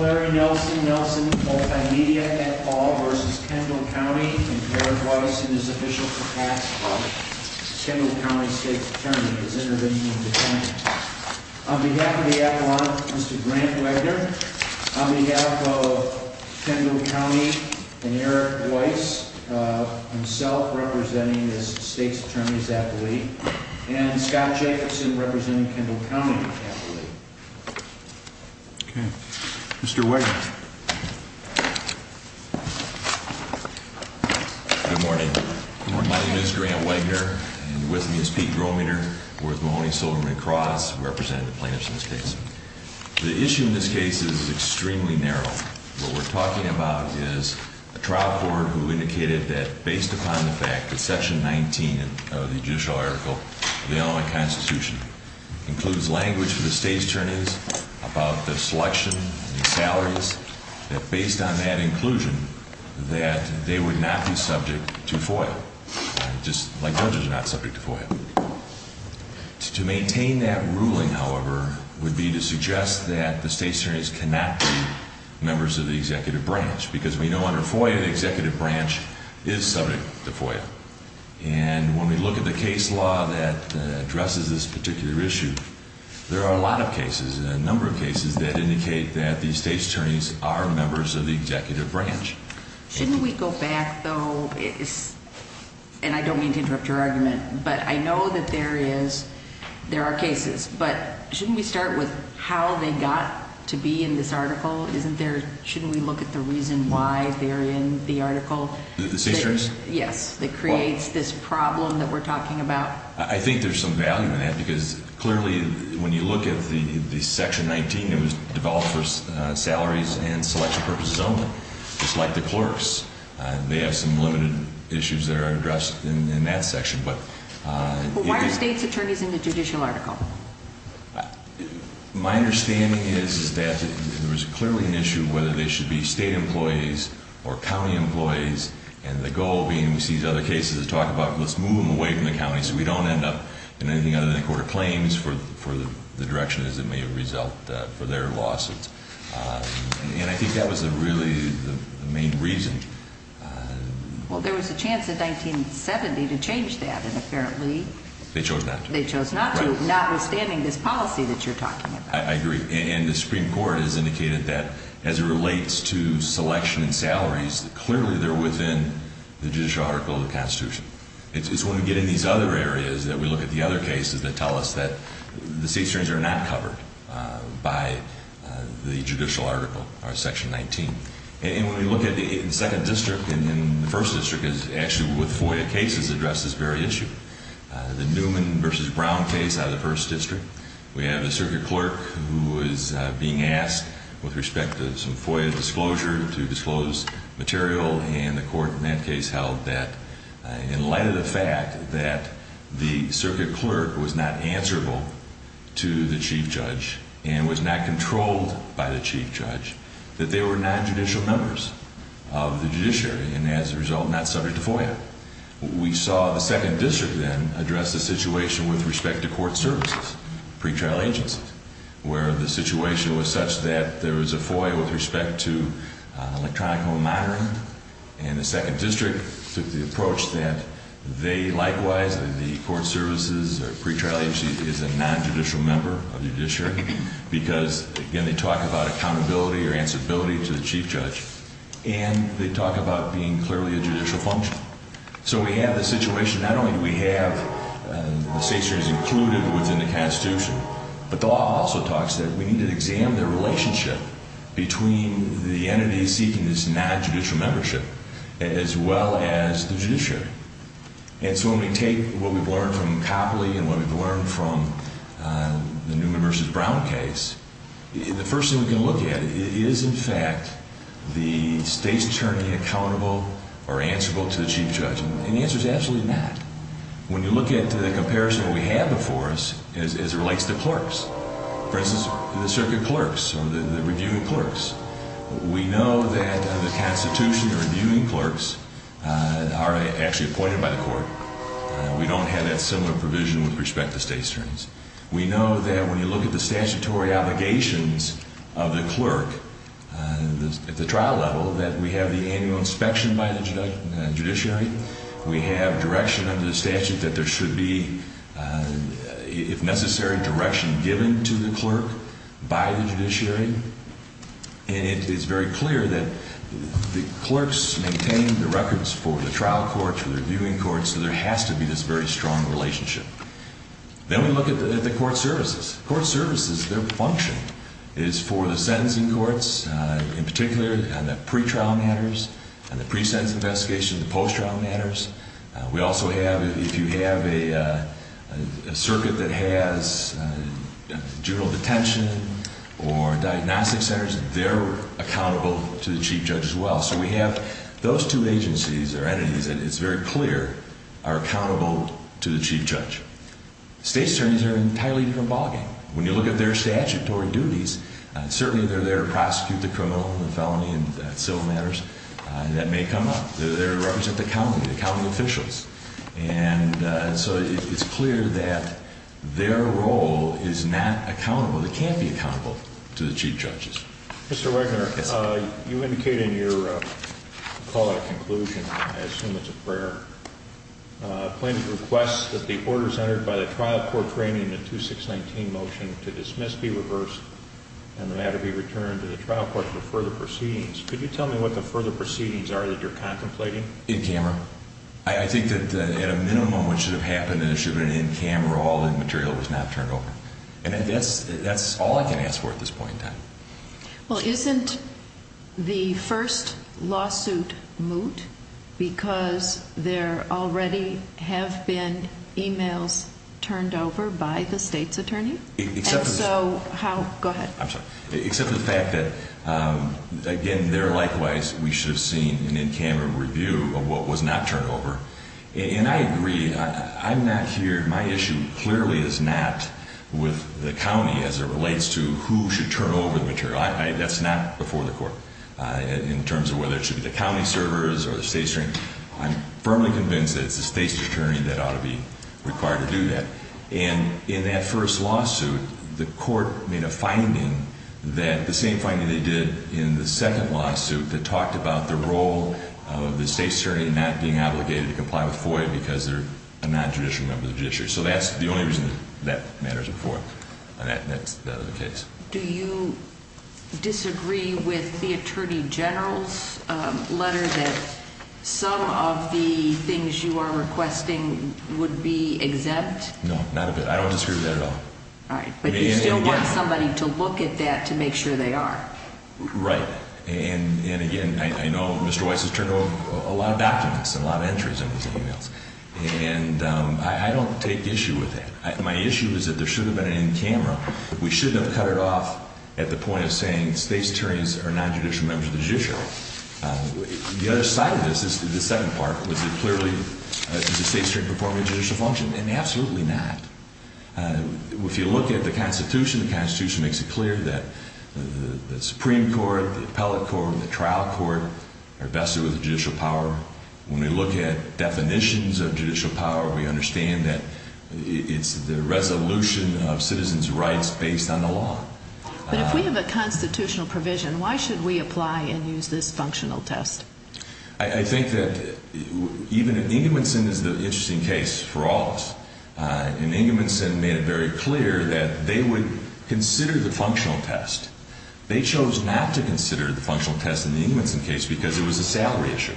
Larry Nelson, Nelson Multimedia, et al. v. Kendall County, and Eric Weiss, in his official capacity as Kendall County State's Attorney, his Intervention in Defense. On behalf of the Avalon, Mr. Grant Wagner, on behalf of Kendall County and Eric Weiss, himself representing this State's Attorney's Affiliate, and Scott Jacobson, representing Kendall County Affiliate. Okay. Mr. Wagner. Good morning. My name is Grant Wagner, and with me is Pete Grometer, who is Mahoney-Silverman Cross, who represented the plaintiffs in this case. The issue in this case is extremely narrow. What we're talking about is a trial court who indicated that, based upon the fact that Section 19 of the Judicial Article of the Illinois Constitution includes language for the State's Attorneys about the selection and salaries, that based on that inclusion, that they would not be subject to FOIA, just like judges are not subject to FOIA. To maintain that ruling, however, would be to suggest that the State's Attorneys cannot be members of the Executive Branch, because we know under FOIA, the Executive Branch is subject to FOIA. And when we look at the case law that addresses this particular issue, there are a lot of cases, a number of cases, that indicate that the State's Attorneys are members of the Executive Branch. Shouldn't we go back, though, and I don't mean to interrupt your argument, but I know that there is, there are cases, but shouldn't we start with how they got to be in this article? Isn't there, shouldn't we look at the reason why they're in the article? The State's Attorneys? Yes, that creates this problem that we're talking about. I think there's some value in that, because clearly, when you look at the Section 19, it was developed for salaries and selection purposes only, just like the clerks. They have some limited issues that are addressed in that section, but... But why are State's Attorneys in the Judicial Article? My understanding is that there was clearly an issue whether they should be State employees or County employees, and the goal being, we see these other cases to talk about, let's move them away from the County so we don't end up in anything other than the Court of Claims for the direction, as it may result, for their lawsuits. And I think that was really the main reason. Well, there was a chance in 1970 to change that, and apparently... They chose not to. They chose not to, notwithstanding this policy that you're talking about. I agree. And the Supreme Court has indicated that, as it relates to selection and salaries, clearly they're within the Judicial Article of the Constitution. It's when we get into these other areas that we look at the other cases that tell us that the State's Attorneys are not covered by the Judicial Article or Section 19. And when we look at the Second District and the First District, actually with FOIA cases, address this very issue. The Newman v. Brown case out of the First District, we had a Circuit Clerk who was being asked with respect to some FOIA disclosure to disclose material, and the Court in that case held that, in light of the fact that the Circuit Clerk was not answerable to the Chief Judge and was not controlled by the Chief Judge, that they were nonjudicial members of the Judiciary, and as a result, not subject to FOIA. We saw the Second District then address the situation with respect to court services, pretrial agencies, where the situation was such that there was a FOIA with respect to electronic home monitoring, and the Second District took the approach that they, likewise, the court services or pretrial agencies, is a nonjudicial member of the Judiciary, because, again, they talk about accountability or answerability to the Chief Judge, and they talk about being clearly a judicial function. So we have the situation, not only do we have the State's attorneys included within the Constitution, but the law also talks that we need to examine the relationship between the entities seeking this nonjudicial membership as well as the Judiciary. And so when we take what we've learned from Copley and what we've learned from the Newman v. Brown case, the first thing we can look at is, in fact, the State's attorney accountable or answerable to the Chief Judge? And the answer is absolutely not. When you look at the comparison we have before us as it relates to clerks, for instance, the circuit clerks or the reviewing clerks, we know that the Constitution, the reviewing clerks are actually appointed by the court. We don't have that similar provision with respect to State's attorneys. We know that when you look at the statutory obligations of the clerk at the trial level, that we have the annual inspection by the Judiciary. We have direction under the statute that there should be, if necessary, direction given to the clerk by the Judiciary. And it is very clear that the clerks maintain the records for the trial court, for the reviewing court, so there has to be this very strong relationship. Then we look at the court services. Court services, their function is for the sentencing courts in particular and the pre-trial matters and the pre-sentence investigation and the post-trial matters. We also have, if you have a circuit that has general detention or diagnostic centers, they're accountable to the Chief Judge as well. So we have those two agencies or entities, it's very clear, are accountable to the Chief Judge. State's attorneys are entirely different ballgame. When you look at their statutory duties, certainly they're there to prosecute the criminal, the felony, and civil matters that may come up. They're there to represent the county, the county officials. And so it's clear that their role is not accountable, it can't be accountable to the Chief Judges. Mr. Wegener, you indicated in your call to conclusion, I assume it's a prayer, a plaintiff requests that the orders entered by the trial court training in the 2619 motion to dismiss be reversed and the matter be returned to the trial court for further proceedings. Could you tell me what the further proceedings are that you're contemplating? In camera. I think that at a minimum what should have happened is it should have been in camera, all the material was not turned over. And that's all I can ask for at this point in time. Well, isn't the first lawsuit moot because there already have been emails turned over by the state's attorney? Except for the fact that, again, there likewise we should have seen an in camera review of what was not turned over. And I agree, I'm not here, my issue clearly is not with the county as it relates to who should turn over the material. That's not before the court in terms of whether it should be the county servers or the state attorney. I'm firmly convinced that it's the state's attorney that ought to be required to do that. And in that first lawsuit, the court made a finding that the same finding they did in the second lawsuit that talked about the role of the state's attorney not being obligated to comply with FOIA because they're a non-judicial member of the judiciary. So that's the only reason that matters before that case. Do you disagree with the Attorney General's letter that some of the things you are requesting would be exempt? No, not a bit. I don't disagree with that at all. All right. But you still want somebody to look at that to make sure they are. Right. And again, I know Mr. Weiss has turned over a lot of documents and a lot of entries in his emails. And I don't take issue with that. My issue is that there shouldn't have been any in camera. We shouldn't have cut it off at the point of saying state's attorneys are non-judicial members of the judiciary. The other side of this, the second part, was it clearly the state's attorney performing a judicial function? And absolutely not. If you look at the Constitution, the Constitution makes it clear that the Supreme Court, the Appellate Court, and the Trial Court are vested with the judicial power. When we look at definitions of judicial power, we understand that it's the resolution of citizens' rights based on the law. But if we have a constitutional provision, why should we apply and use this functional test? I think that, even in England, Winston is an interesting case for all of us. And Engelson made it very clear that they would consider the functional test. They chose not to consider the functional test in the Engelson case because it was a salary issue.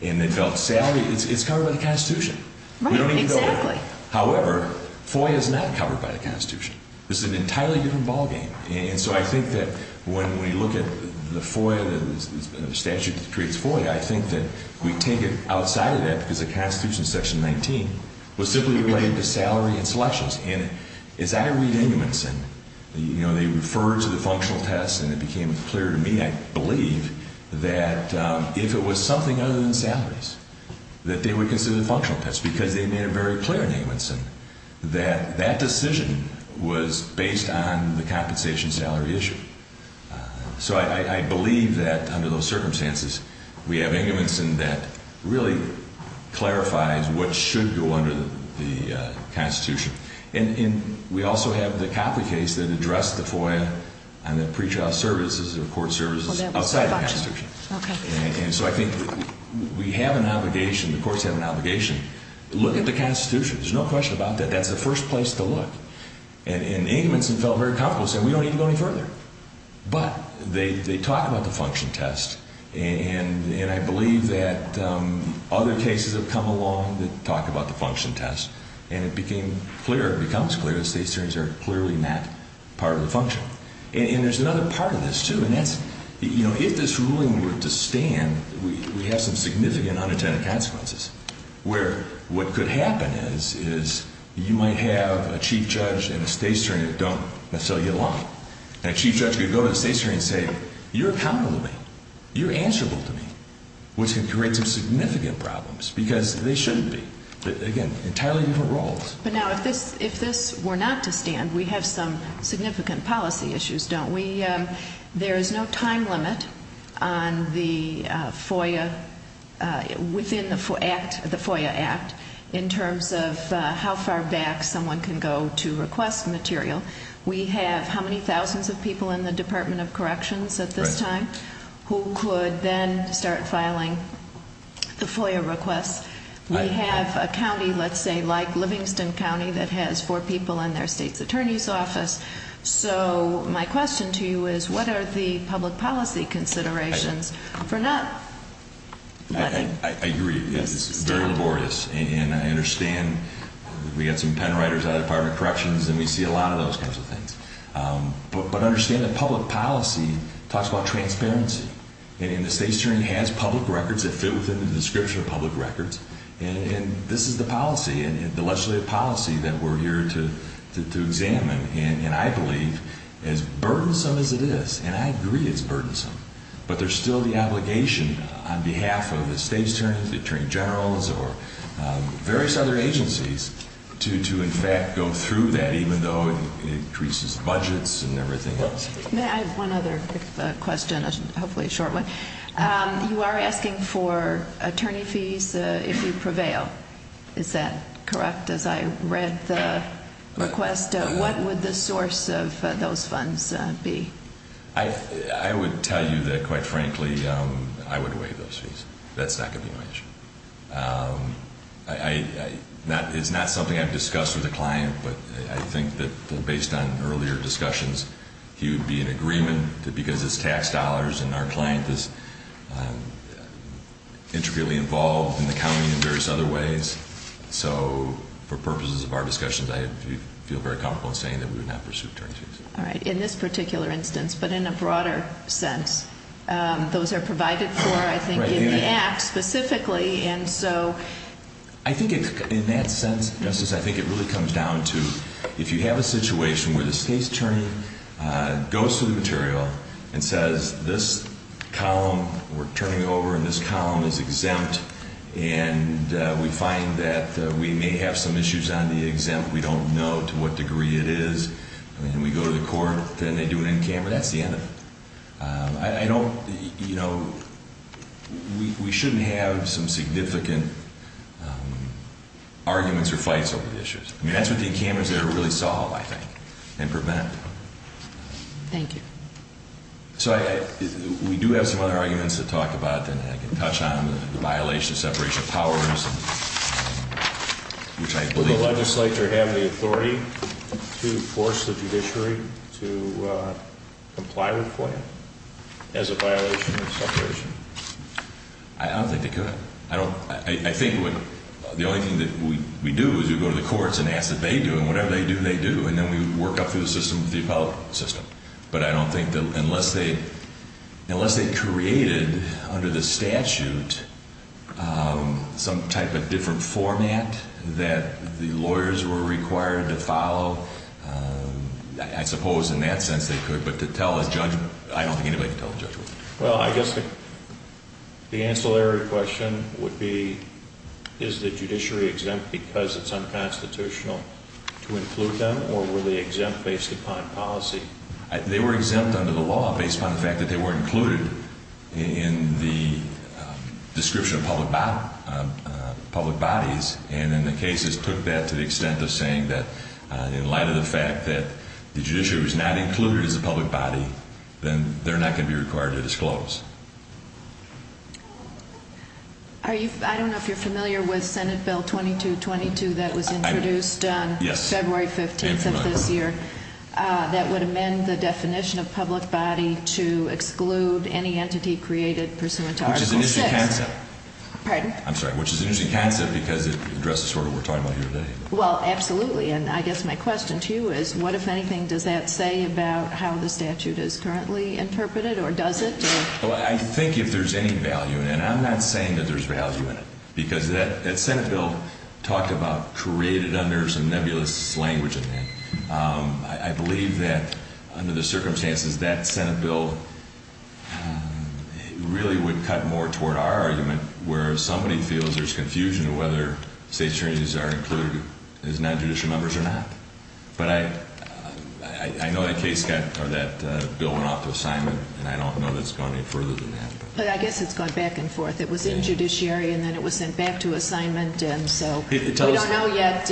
And they felt salary, it's covered by the Constitution. Right, exactly. However, FOIA is not covered by the Constitution. This is an entirely different ballgame. And so I think that when we look at the FOIA, the statute that creates FOIA, I think that we take it outside of that because the Constitution, Section 19, was simply related to salary and selections. And as I read Engelson, you know, they referred to the functional test and it became clear to me, I believe, that if it was something other than salaries, that they would consider the functional test because they made it very clear in Engelson that that decision was based on the compensation salary issue. So I believe that, under those circumstances, we have Engelson that really clarifies what should go under the Constitution. And we also have the Copley case that addressed the FOIA and the pretrial services or court services outside the Constitution. And so I think we have an obligation, the courts have an obligation to look at the Constitution. There's no question about that. That's the first place to look. And Engelson felt very comfortable saying we don't need to go any further. But they talk about the function test and I believe that other cases have come along that talk about the function test and it became clear, it becomes clear, that state's terms are clearly not part of the function. And there's another part of this too and that's, you know, if this ruling were to stand, we have some significant unintended consequences where what could happen is you might have a Chief Judge and a State's Attorney that don't necessarily get along. And a Chief Judge could go to the State's Attorney and say, you're accountable to me. You're answerable to me. Which can create some significant problems because they shouldn't be. Again, entirely different roles. But now if this were not to stand, we have some significant policy issues, don't we? There is no time limit on the FOIA, within the FOIA Act, in terms of how far back someone can go to request material. We have how many thousands of people in the Department of Corrections at this time who could then start filing the FOIA requests. We have a county, let's say, like Livingston County, that has four people in their State's Attorney's Office. So my question to you is what are the public policy considerations for not letting? I agree. It's very laborious. And I understand we have some pen writers out of the Department of Corrections and we see a lot of those kinds of things. But understand that public policy talks about transparency. And the State's Attorney has public records that fit within the description of public records. And this is the policy, the legislative policy that we're here to examine. And I believe, as burdensome as it is, and I agree it's burdensome, but there's still the obligation on behalf of the State's Attorney, the Attorney Generals, or various other agencies to in fact go through that, even though it increases budgets and everything else. May I have one other quick question? Hopefully a short one. You are asking for attorney fees if you prevail. Is that correct, as I read the request? What would the source of those funds be? I would tell you that, quite frankly, I would waive those fees. That's not going to be my issue. It's not something I've discussed with a client, but I think that based on earlier discussions, he would be in agreement that because it's tax dollars and our client is intricately involved in the county in various other ways, so for purposes of our discussions, I feel very comfortable in saying that we would not pursue attorney fees. All right. In this particular instance, but in a broader sense. Those are provided for, I think, in the Act specifically, and so... I think in that sense, Justice, I think it really comes down to if you have a situation where the State's Attorney goes through the material and says this column, we're turning it over and this column is exempt, and we find that we may have some issues on the exempt, we don't know to what degree it is, and we go to the court, then they do an encammer, that's the end of it. I don't, you know, we shouldn't have some significant arguments or fights over the issues. I mean, that's what the encammer is there to really solve, I think, and prevent. Thank you. So, we do have some other arguments to talk about that I can touch on, the violation of separation of powers, which I believe... Does the legislature have the authority to force the judiciary to comply with FOIA as a violation of separation? I don't think they could. I don't, I think the only thing that we do is we go to the courts and ask that they do it, and whatever they do, they do, and then we work up through the system with the appellate system. But I don't think that unless they, unless they created under the statute some type of different format that the lawyers were required to follow, I suppose in that sense they could, but to tell a judgment, I don't think anybody could tell a judgment. Well, I guess the ancillary question would be, is the judiciary exempt because it's unconstitutional to include them, or were they exempt based upon policy? They were exempt under the law based upon the fact that they were included in the description of public bodies, and then the cases took that to the extent of saying that in light of the fact that the judiciary was not included as a public body, then they're not going to be required to disclose. I don't know if you're familiar with Senate Bill 2222 that was introduced on February 15th of this year, that would amend the definition of public body to exclude any entity created pursuant to Article VI. Which is an interesting concept. Pardon? I'm sorry, which is an interesting concept because it addresses sort of what we're talking about here today. Well, absolutely. And I guess my question to you is, what, if anything, does that say about how the statute is currently interpreted, or does it? Well, I think if there's any value in it, and I'm not saying that there's value in it, because that Senate bill talked about created under some nebulous language in it. I believe that under the circumstances, that Senate bill really would cut more toward our argument, where if somebody feels there's confusion whether state attorneys are included as non-judicial members or not. But I know that case got, or that bill went off to assignment, and I don't know that it's gone any further than that. But I guess it's gone back and forth. It was in judiciary, and then it was sent back to assignment, and so we don't know yet,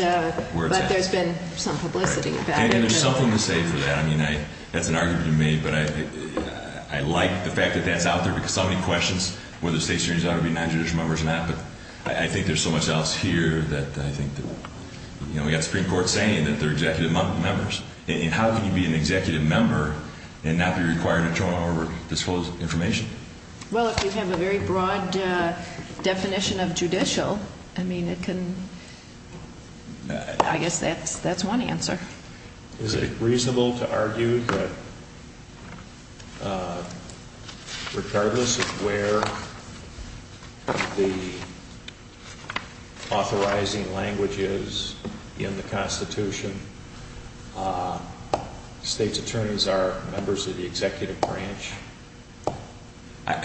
but there's been some publicity about it. And there's something to say for that. I mean, that's an argument you made, but I like the fact that that's out there, because so many questions, whether state attorneys ought to be non-judicial members or not, but I think there's so much else here that I think that, you know, we've got the Supreme Court saying that they're executive members. And how can you be an executive member and not be required to turn over disclosed information? Well, if you have a very broad definition of judicial, I mean, it can, I guess that's one answer. Is it reasonable to argue that regardless of where the authorizing language is in the I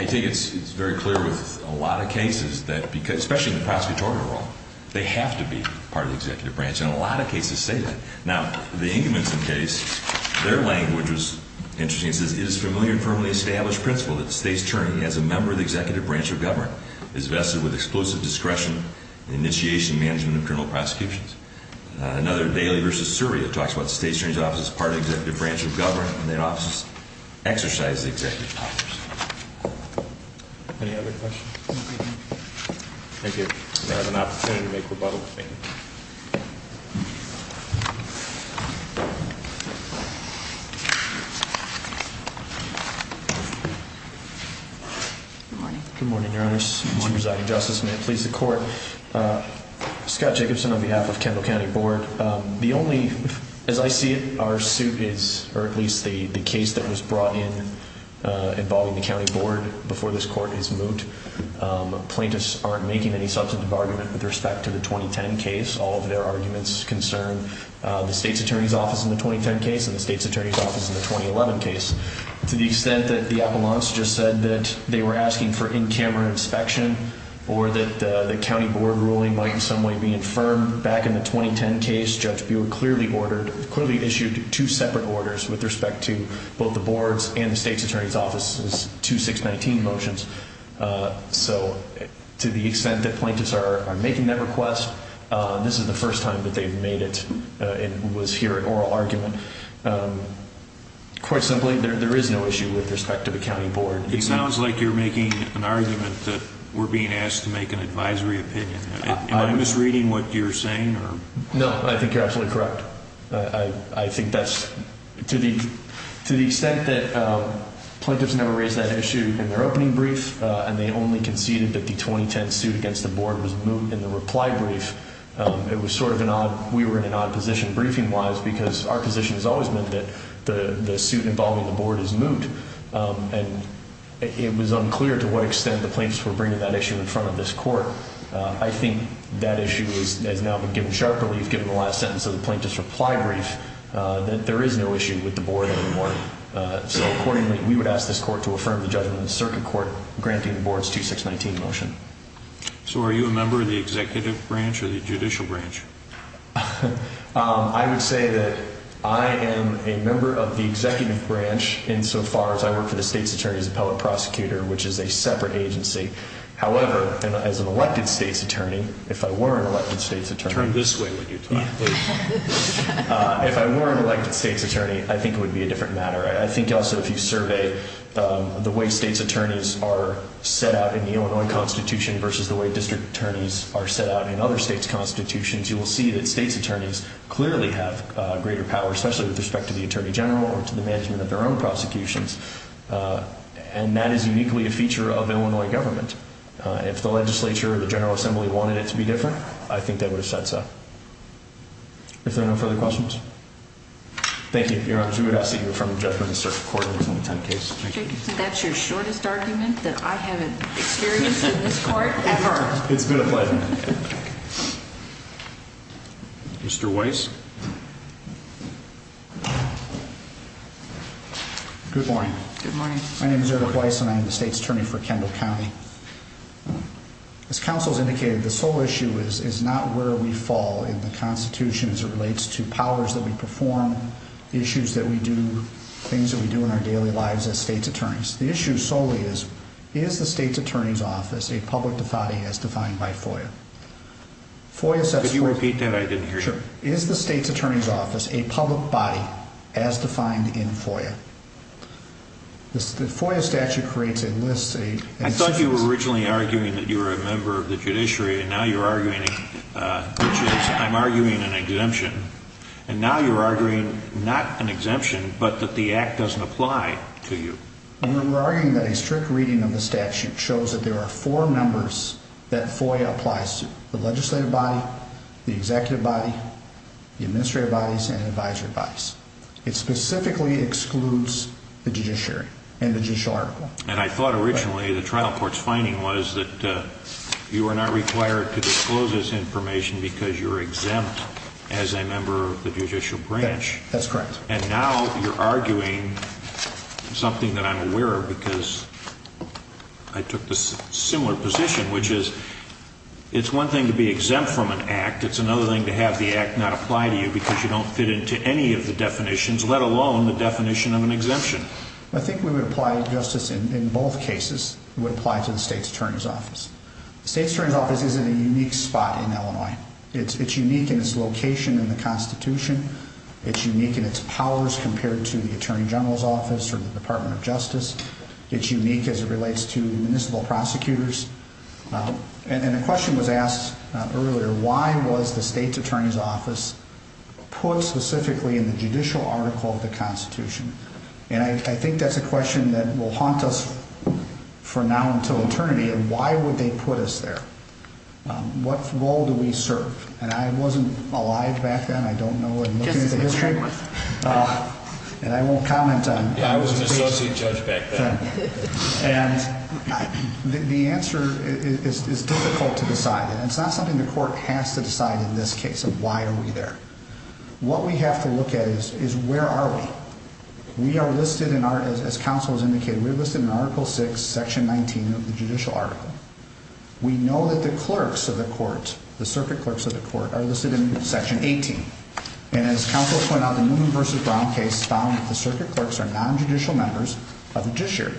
think it's very clear with a lot of cases that, especially in the prosecutorial role, they have to be part of the executive branch. And a lot of cases say that. Now, the Inkerman's case, their language was interesting. It says, it is a familiar and firmly established principle that the state attorney, as a member of the executive branch of government, is vested with exclusive discretion in the initiation and management of internal prosecutions. Another, Daley v. Suri, it talks about the state attorney's office as part of the executive branch of government, and their offices exercise the executive powers. Any other questions? Thank you. I have an opportunity to make rebuttal. Thank you. Good morning. Good morning, Your Honor. Good morning. As a residing justice, may it please the court. Scott Jacobson on behalf of Kendall County Board. The only, as I see it, our suit is, or at least the case that was brought in involving the county board before this court is moved, plaintiffs aren't making any substantive argument with respect to the 2010 case. All of their arguments concern the state's attorney's office in the 2010 case and the state's attorney's office in the 2011 case. To the extent that the appellants just said that they were asking for in-camera inspection or that the county board ruling might in some way be infirmed, back in the 2010 case, Judge Buehler clearly ordered, clearly issued two separate orders with respect to both the board's and the state's attorney's office's 2619 motions. So, to the extent that plaintiffs are making that request, this is the first time that they've made it and was here at oral argument. Quite simply, there is no issue with respect to the county board. It sounds like you're making an argument that we're being asked to make an advisory opinion. Am I misreading what you're saying? No, I think you're absolutely correct. I think that's, to the extent that plaintiffs never raised that issue in their opening brief and they only conceded that the 2010 suit against the board was moot in the reply brief, it was sort of an odd, we were in an odd position briefing-wise because our position has always been that the suit involving the board is moot, and it was unclear to what extent the plaintiffs were bringing that issue in front of this court. I think that issue has now been given sharp relief, given the last sentence of the plaintiff's reply brief, that there is no issue with the board anymore. So, accordingly, we would ask this court to affirm the judgment of the circuit court granting the board's 2619 motion. So, are you a member of the executive branch or the judicial branch? I would say that I am a member of the executive branch insofar as I work for the State's Attorney's Appellate Prosecutor, which is a separate agency. However, as an elected State's Attorney, if I were an elected State's Attorney... Turn this way when you talk. If I were an elected State's Attorney, I think it would be a different matter. I think also if you survey the way State's Attorneys are set out in the Illinois Constitution versus the way District Attorneys are set out in other State's Constitutions, you will see that State's Attorneys clearly have greater power, especially with respect to the Attorney General or to the management of their own prosecutions, and that is uniquely a feature of Illinois government. If the legislature or the General Assembly wanted it to be different, I think they would have said so. Are there no further questions? Thank you, Your Honors. We would ask that you affirm the judgment of the circuit court in the 2010 case. That's your shortest argument that I haven't experienced in this court ever. It's been a pleasure. Mr. Weiss? Good morning. Good morning. My name is Eric Weiss and I am the State's Attorney for Kendall County. As counsel has indicated, the sole issue is not where we fall in the Constitution as it relates to powers that we perform, the issues that we do, things that we do in our daily lives as State's Attorneys. The issue solely is, is the State's Attorney's Office a public body as defined by FOIA? Could you repeat that? I didn't hear you. Sure. Is the State's Attorney's Office a public body as defined in FOIA? The FOIA statute creates a list. I thought you were originally arguing that you were a member of the judiciary and now you're arguing, which is, I'm arguing an exemption. And now you're arguing not an exemption, but that the act doesn't apply to you. We're arguing that a strict reading of the statute shows that there are four members that FOIA applies to. The legislative body, the executive body, the administrative bodies, and advisory bodies. It specifically excludes the judiciary and the judicial article. And I thought originally the trial court's finding was that you were not required to be a member of the judicial branch. That's correct. And now you're arguing something that I'm aware of because I took this similar position, which is, it's one thing to be exempt from an act, it's another thing to have the act not apply to you because you don't fit into any of the definitions, let alone the definition of an exemption. I think we would apply justice in both cases. It would apply to the State's Attorney's Office. The State's Attorney's Office is in a unique spot in Illinois. It's unique in its location in the Constitution. It's unique in its powers compared to the Attorney General's Office or the Department of Justice. It's unique as it relates to municipal prosecutors. And a question was asked earlier, why was the State's Attorney's Office put specifically in the judicial article of the Constitution? And I think that's a question that will haunt us for now until eternity. Why would they put us there? What role do we serve? And I wasn't alive back then. I don't know. I'm looking at the history. And I won't comment on. Yeah, I was an associate judge back then. And the answer is difficult to decide. And it's not something the court has to decide in this case of why are we there. What we have to look at is, is where are we? We are listed in our, as counsel has indicated, we're listed in Article VI, Section 19 of the judicial article. We know that the clerks of the court, the circuit clerks of the court, are listed in Section 18. And as counsel pointed out, the Newman v. Brown case found that the circuit clerks are non-judicial members of the judiciary.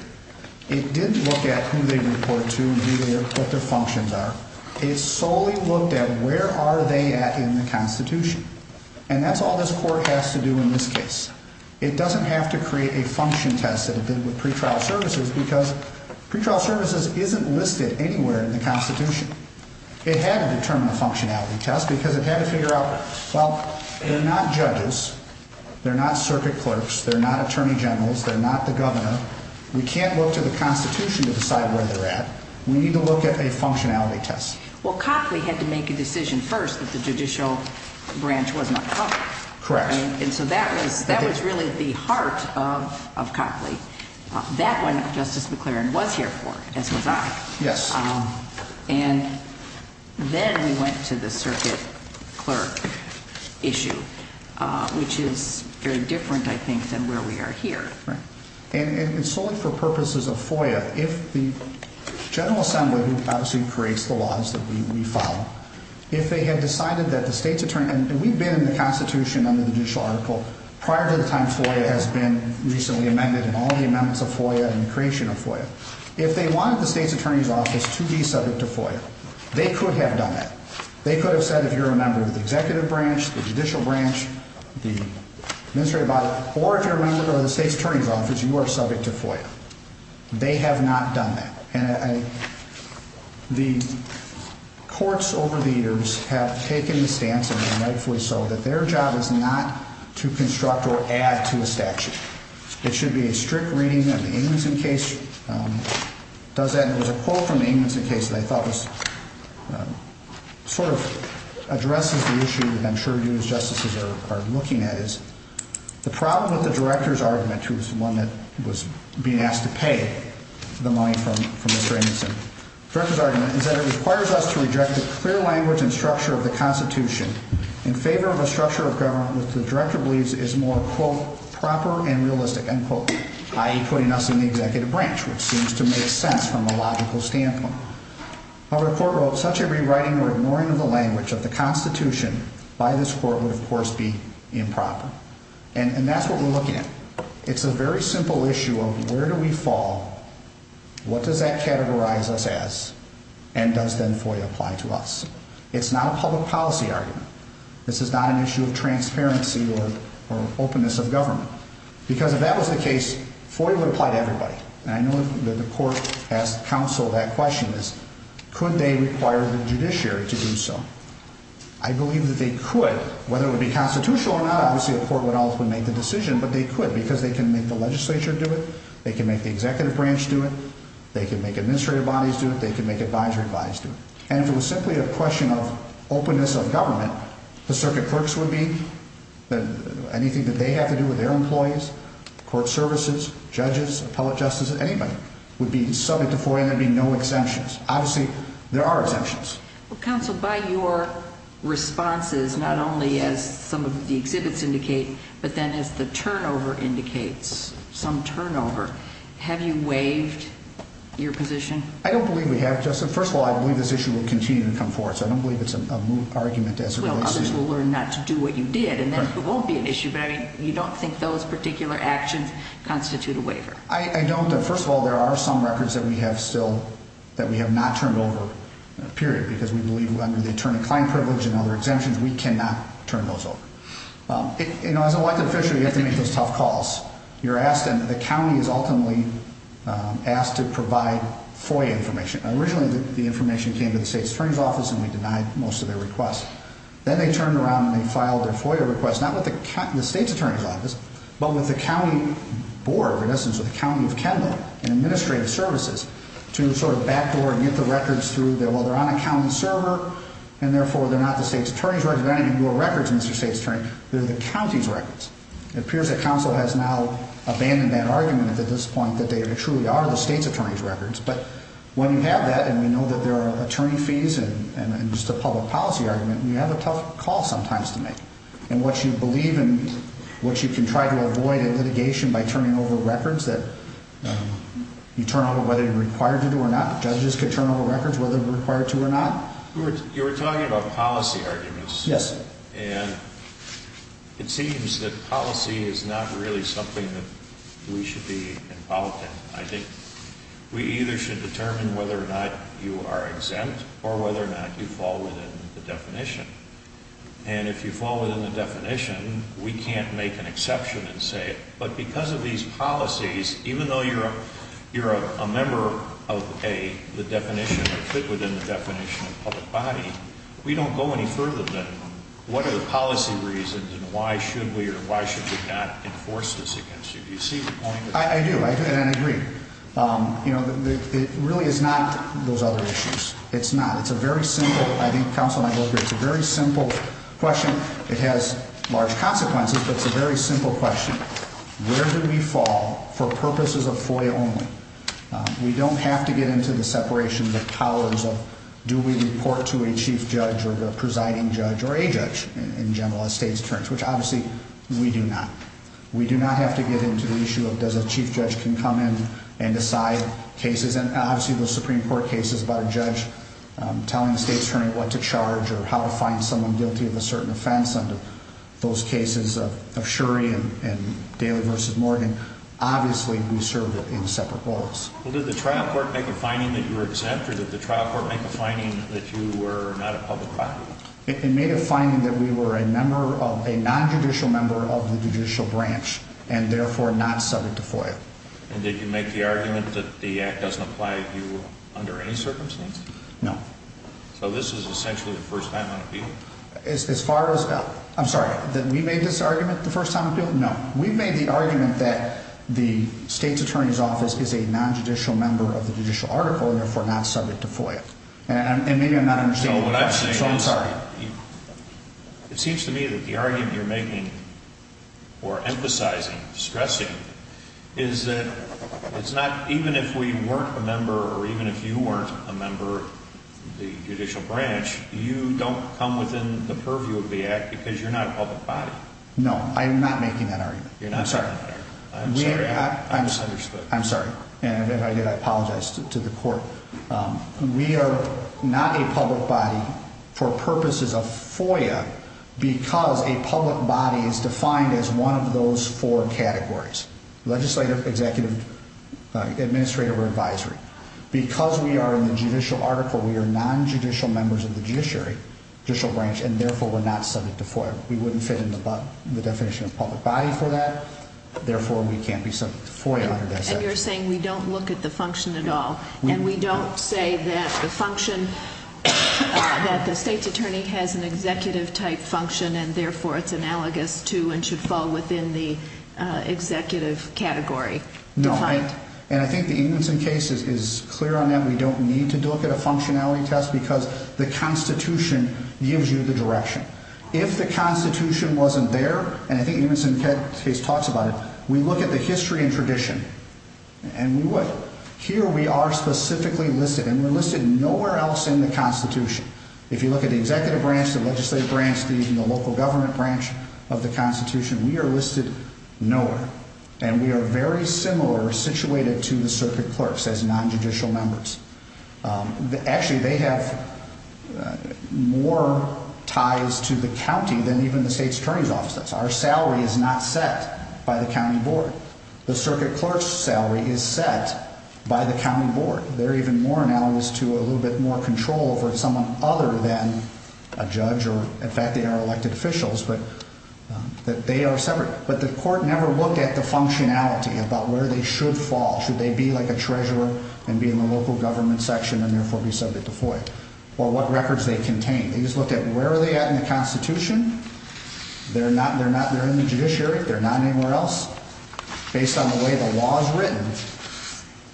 It didn't look at who they report to and what their functions are. It solely looked at where are they at in the Constitution. And that's all this court has to do in this case. It doesn't have to create a function test that it did with pretrial services because pretrial services isn't listed anywhere in the Constitution. It had to determine the functionality test because it had to figure out, well, they're not judges, they're not circuit clerks, they're not attorney generals, they're not the governor. We can't look to the Constitution to decide where they're at. We need to look at a functionality test. Well, Copley had to make a decision first that the judicial branch was not covered. Correct. And so that was, that was really the heart of, of Copley. That one, Justice McClaren was here for, as was I. Yes. And then we went to the circuit clerk issue, which is very different, I think, than where we are here. Right. And, and, and solely for purposes of FOIA, if the General Assembly, who obviously creates the laws that we, we follow, if they had decided that the state's attorney, and we've been in the Constitution under the judicial article prior to the time FOIA has been recently amended and all the amendments of FOIA and the creation of FOIA. If they wanted the state's attorney's office to be subject to FOIA, they could have done that. They could have said, if you're a member of the executive branch, the judicial branch, the administrative body, or if you're a member of the state's attorney's office, you are subject to FOIA. They have not done that. And I, the courts over the years have taken the stance, and they're rightfully so, that their job is not to construct or add to a statute. It should be a strict reading of the Amundson case. It does that, and there was a quote from the Amundson case that I thought was, sort of addresses the issue that I'm sure you as justices are, are looking at is, the problem with the Director's argument, who was the one that was being asked to pay the money from, from Mr. Amundson. The Director's argument is that it requires us to reject the clear language and structure of the Constitution in favor of a structure of government which the Director believes is more, quote, proper and realistic, end quote, i.e. putting us in the executive branch, which seems to make sense from a logical standpoint. However, the court wrote, such a rewriting or ignoring of the language of the Constitution by this court would, of course, be improper. And, and that's what we're looking at. It's a very simple issue of where do we fall, what does that categorize us as, and does then FOIA apply to us? It's not a public policy argument. This is not an issue of transparency or, or openness of government. Because if that was the case, FOIA would apply to everybody. And I know that the court asked counsel that question is, could they require the judiciary to do so? I believe that they could, whether it would be constitutional or not, obviously the court would ultimately make the decision, but they could because they can make the legislature do it, they can make the executive branch do it, they can make administrative bodies do it, they can make advisory bodies do it. And if it was simply a question of openness of government, the circuit clerks would be, anything that they have to do with their employees, court services, judges, appellate justice, anybody would be subject to FOIA and there'd be no exemptions. Obviously, there are exemptions. Counsel, by your responses, not only as some of the exhibits indicate, but then as the turnover indicates, some turnover, have you waived your position? I don't believe we have, Justice. First of all, I believe this issue will continue to come forward, so I don't believe it's an argument as it relates to you. Well, others will learn not to do what you did, and then it won't be an issue. But I mean, you don't think those particular actions constitute a waiver? I don't. First of all, there are some records that we have still, that we have not turned over, period, because we believe under the attorney-client privilege and other exemptions, we cannot turn those over. As an elected official, you have to make those tough calls. You're asked, and the county is ultimately asked to provide FOIA information. Originally, the information came to the state's attorney's office, and we denied most of their requests. Then they turned around and they filed their FOIA requests, not with the state's attorney's office, but with the county board, in essence, with the county of Kendall and administrative services, to sort of backdoor and get the records through. Well, they're on a county server, and therefore, they're not the state's attorney's records. They're not even your records, Mr. State's Attorney. They're the county's records. It appears that counsel has now abandoned that argument at this point, that they truly are the state's attorney's records. But when you have that, and we know that there are attorney fees and just a public policy argument, you have a tough call sometimes to make. And what you believe in, what you can try to avoid in litigation by turning over records that you turn over whether you're required to do or not, judges can turn over records whether they're required to or not. You were talking about policy arguments. Yes, sir. And it seems that policy is not really something that we should be involved in. I think we either should determine whether or not you are exempt or whether or not you fall within the definition. And if you fall within the definition, we can't make an exception and say it. But because of these policies, even though you're a member of the definition or fit within the definition of public body, we don't go any further than what are the policy reasons and why should we or why should we not enforce this against you? Do you see the point? I do. I do. And I agree. You know, it really is not those other issues. It's not. It's a very simple, I think counsel and I both agree, it's a very simple question. It has large consequences, but it's a very simple question. Where do we fall for purposes of FOIA only? We don't have to get into the separation of powers of do we report to a chief judge or the presiding judge or a judge in general estate's terms, which obviously we do not. We do not have to get into the issue of does a chief judge can come in and decide cases and obviously the Supreme Court cases about a judge telling the state attorney what to charge or how to find someone guilty of a certain offense under those cases of Shuri and Daly versus Morgan, obviously we serve in separate roles. Well, did the trial court make a finding that you were exempt or did the trial court make a finding that you were not a public body? It made a finding that we were a member of, a non-judicial member of the judicial branch and therefore not subject to FOIA. And did you make the argument that the act doesn't apply to you under any circumstance? No. So this is essentially the first time on appeal? As far as, I'm sorry, that we made this argument the first time on appeal? No. We made the argument that the state's attorney's office is a non-judicial member of the judicial article and therefore not subject to FOIA. And maybe I'm not understanding the question. I'm sorry. It seems to me that the argument you're making or emphasizing, stressing, is that it's not, even if we weren't a member or even if you weren't a member of the judicial branch, you don't come within the purview of the act because you're not a public body. No. I am not making that argument. I'm sorry. I'm sorry. I misunderstood. I'm sorry. And I apologize to the court. We are not a public body for purposes of FOIA because a public body is defined as one of those four categories, legislative, executive, administrative, or advisory. Because we are in the judicial article, we are non-judicial members of the judiciary, judicial branch, and therefore we're not subject to FOIA. We wouldn't fit in the definition of public body for that. Therefore, we can't be subject to FOIA under that statute. So you're saying we don't look at the function at all. And we don't say that the function, that the state's attorney has an executive-type function and therefore it's analogous to and should fall within the executive category. No. And I think the Ingebrigtsen case is clear on that. We don't need to look at a functionality test because the Constitution gives you the direction. If the Constitution wasn't there, and I think the Ingebrigtsen case talks about it, we look at the history and tradition, and here we are specifically listed. And we're listed nowhere else in the Constitution. If you look at the executive branch, the legislative branch, even the local government branch of the Constitution, we are listed nowhere. And we are very similar situated to the circuit clerks as non-judicial members. Actually, they have more ties to the county than even the state's attorney's office does. Our salary is not set by the county board. The circuit clerk's salary is set by the county board. They're even more analogous to a little bit more control over someone other than a judge or, in fact, they are elected officials, but they are separate. But the court never looked at the functionality about where they should fall. Should they be like a treasurer and be in the local government section and therefore be subject to FOIA? Or what records they contain. They just looked at where are they at in the Constitution. They're in the judiciary. They're not anywhere else. Based on the way the law is written,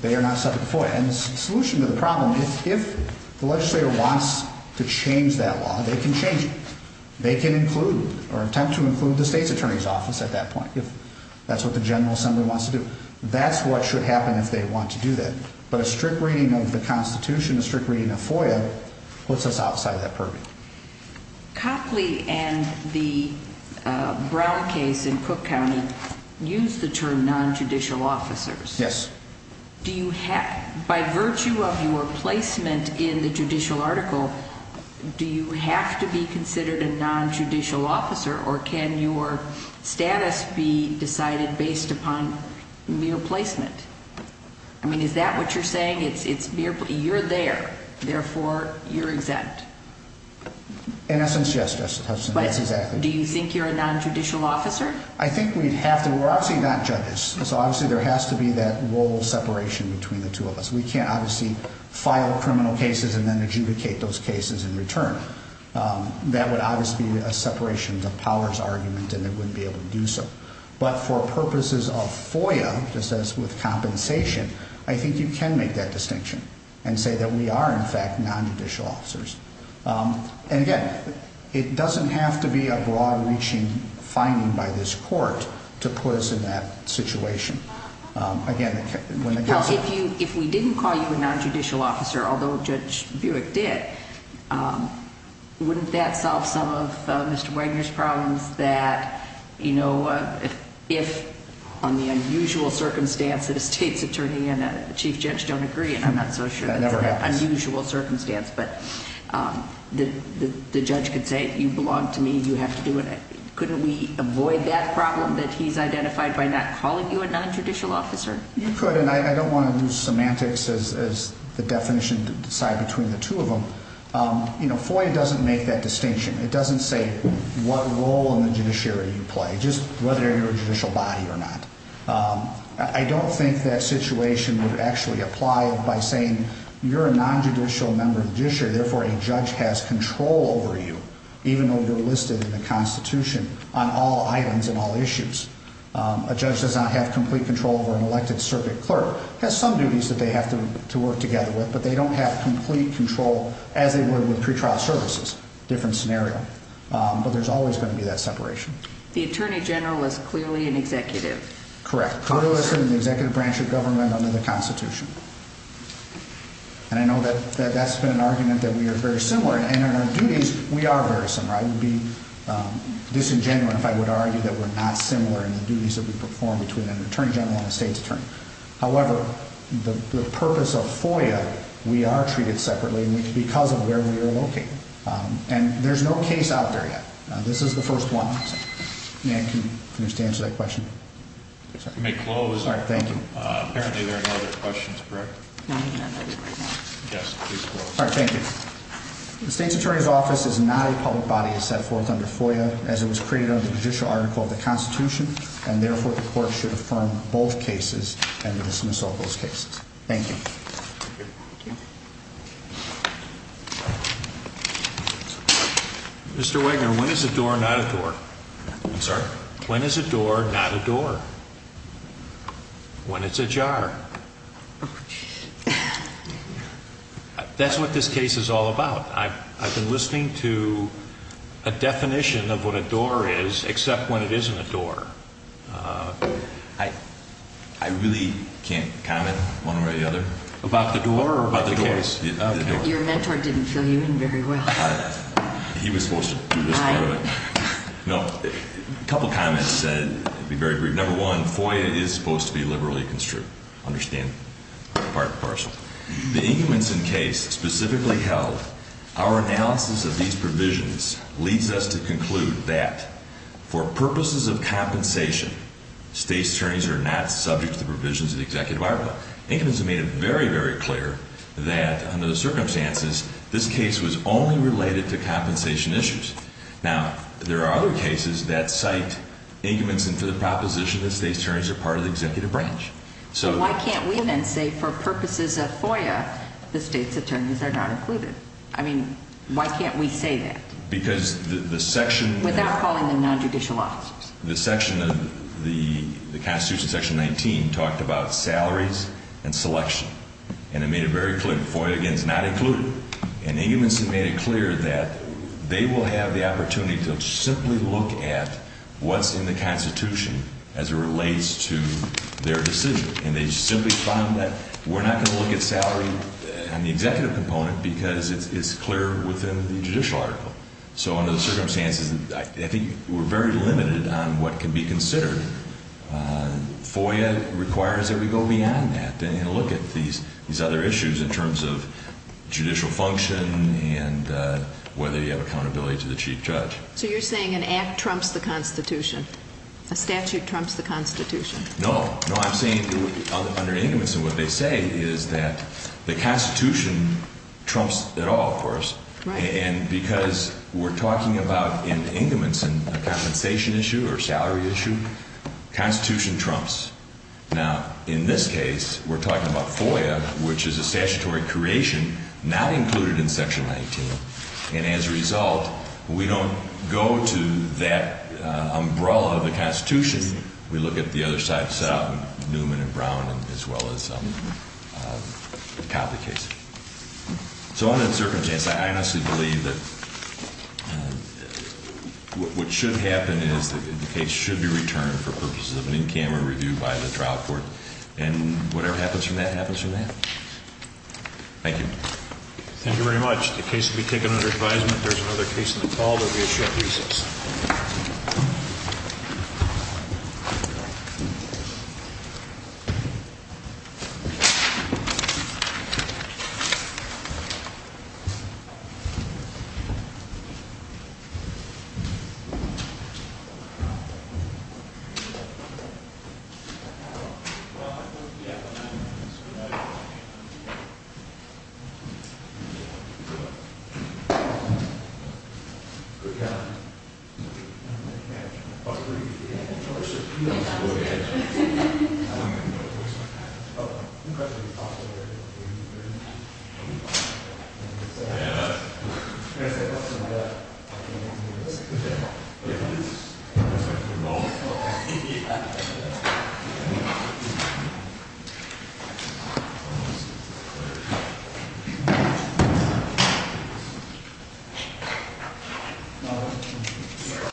they are not subject to FOIA. And the solution to the problem is if the legislator wants to change that law, they can change it. They can include or attempt to include the state's attorney's office at that point if that's what the General Assembly wants to do. That's what should happen if they want to do that. But a strict reading of the Constitution, a strict reading of FOIA, puts us outside that purview. Copley and the Brown case in Cook County used the term non-judicial officers. Yes. Do you have, by virtue of your placement in the judicial article, do you have to be considered a non-judicial officer or can your status be decided based upon mere placement? I mean, is that what you're saying? You're there, therefore you're exempt. In essence, yes. Do you think you're a non-judicial officer? I think we'd have to. We're obviously not judges, so obviously there has to be that role separation between the two of us. We can't obviously file criminal cases and then adjudicate those cases in return. That would obviously be a separation of powers argument and they wouldn't be able to do so. But for purposes of FOIA, just as with compensation, I think you can make that distinction and say that we are, in fact, non-judicial officers. And again, it doesn't have to be a broad-reaching finding by this court to put us in that situation. If we didn't call you a non-judicial officer, although Judge Buick did, wouldn't that solve some of Mr. Wagner's problems that, you know, if on the unusual circumstance that a state's attorney and a chief judge don't agree, and I'm not so sure that's an unusual circumstance, but the judge could say, you belong to me, you have to do it, couldn't we avoid that problem that he's identified by not calling you a non-judicial officer? You could, and I don't want to use semantics as the definition to decide between the two of them. You know, FOIA doesn't make that distinction. It doesn't say what role in the judiciary you play, just whether you're a judicial body or not. I don't think that situation would actually apply by saying you're a non-judicial member of the judiciary, therefore a judge has control over you, even though you're listed in the Constitution on all items and all issues. A judge does not have complete control over an elected circuit clerk. It has some duties that they have to work together with, but they don't have complete control as they would with pretrial services, different scenario, but there's always going to be that separation. The attorney general is clearly an executive. Correct, clearly listed in the executive branch of government under the Constitution, and I know that that's been an argument that we are very similar, and in our duties, we are very similar. I would be disingenuous if I would argue that we're not similar in the duties that we perform between an attorney general and a state's attorney. However, the purpose of FOIA, we are treated separately because of where we are located, and there's no case out there yet. This is the first one. May I finish to answer that question? You may close. All right, thank you. Apparently there are no other questions, correct? Yes, please close. All right, thank you. The state's attorney's office is not a public body as set forth under FOIA, as it was created under the judicial article of the Constitution, and therefore, the court should affirm both cases and dismiss all those cases. Thank you. Thank you. Mr. Wagner, when is a door not a door? I'm sorry? When is a door not a door? When it's a jar. That's what this case is all about. I've been listening to a definition of what a door is, except when it isn't a door. I really can't comment one way or the other? About the door or about the case? About the door. Your mentor didn't fill you in very well. He was supposed to do this part of it. No. A couple of comments that would be very brief. Number one, FOIA is supposed to be liberally construed. Understand? Part and parcel. The Ingebrigtsen case specifically held, our analysis of these provisions leads us to conclude that for purposes of compensation, state's attorneys are not subject to the provisions of the executive article. Ingebrigtsen made it very, very clear that under the circumstances, this case was only related to compensation issues. Now, there are other cases that cite Ingebrigtsen for the proposition that state's attorneys are part of the executive branch. Why can't we then say for purposes of FOIA, the state's attorneys are not included? I mean, why can't we say that? Because the section... Without calling them non-judicial officers. The section of the Constitution, section 19, talked about salaries and selection. And it made it very clear that FOIA, again, is not included. And Ingebrigtsen made it clear that they will have the opportunity to simply look at what's in the Constitution as it relates to their decision. And they simply found that we're not going to look at salary on the executive component because it's clear within the judicial article. So under the circumstances, I think we're very limited on what can be considered. FOIA requires that we go beyond that and look at these other issues in terms of judicial function and whether you have accountability to the chief judge. So you're saying an act trumps the Constitution? A statute trumps the Constitution? No. No, I'm saying under Ingebrigtsen what they say is that the Constitution trumps it all, of course. Right. And because we're talking about, in Ingebrigtsen, a compensation issue or salary issue, the Constitution trumps. Now, in this case, we're talking about FOIA, which is a statutory creation not included in section 19. And as a result, we don't go to that umbrella of the Constitution. We look at the other side of the settlement, Newman and Brown, as well as the Copley case. So under the circumstances, I honestly believe that what should happen is that the case should be returned for purposes of an in-camera review by the trial court. And whatever happens from that happens from that. Thank you. Thank you very much. The case will be taken under advisement. If there's another case in the fall, there will be a short recess. Thank you.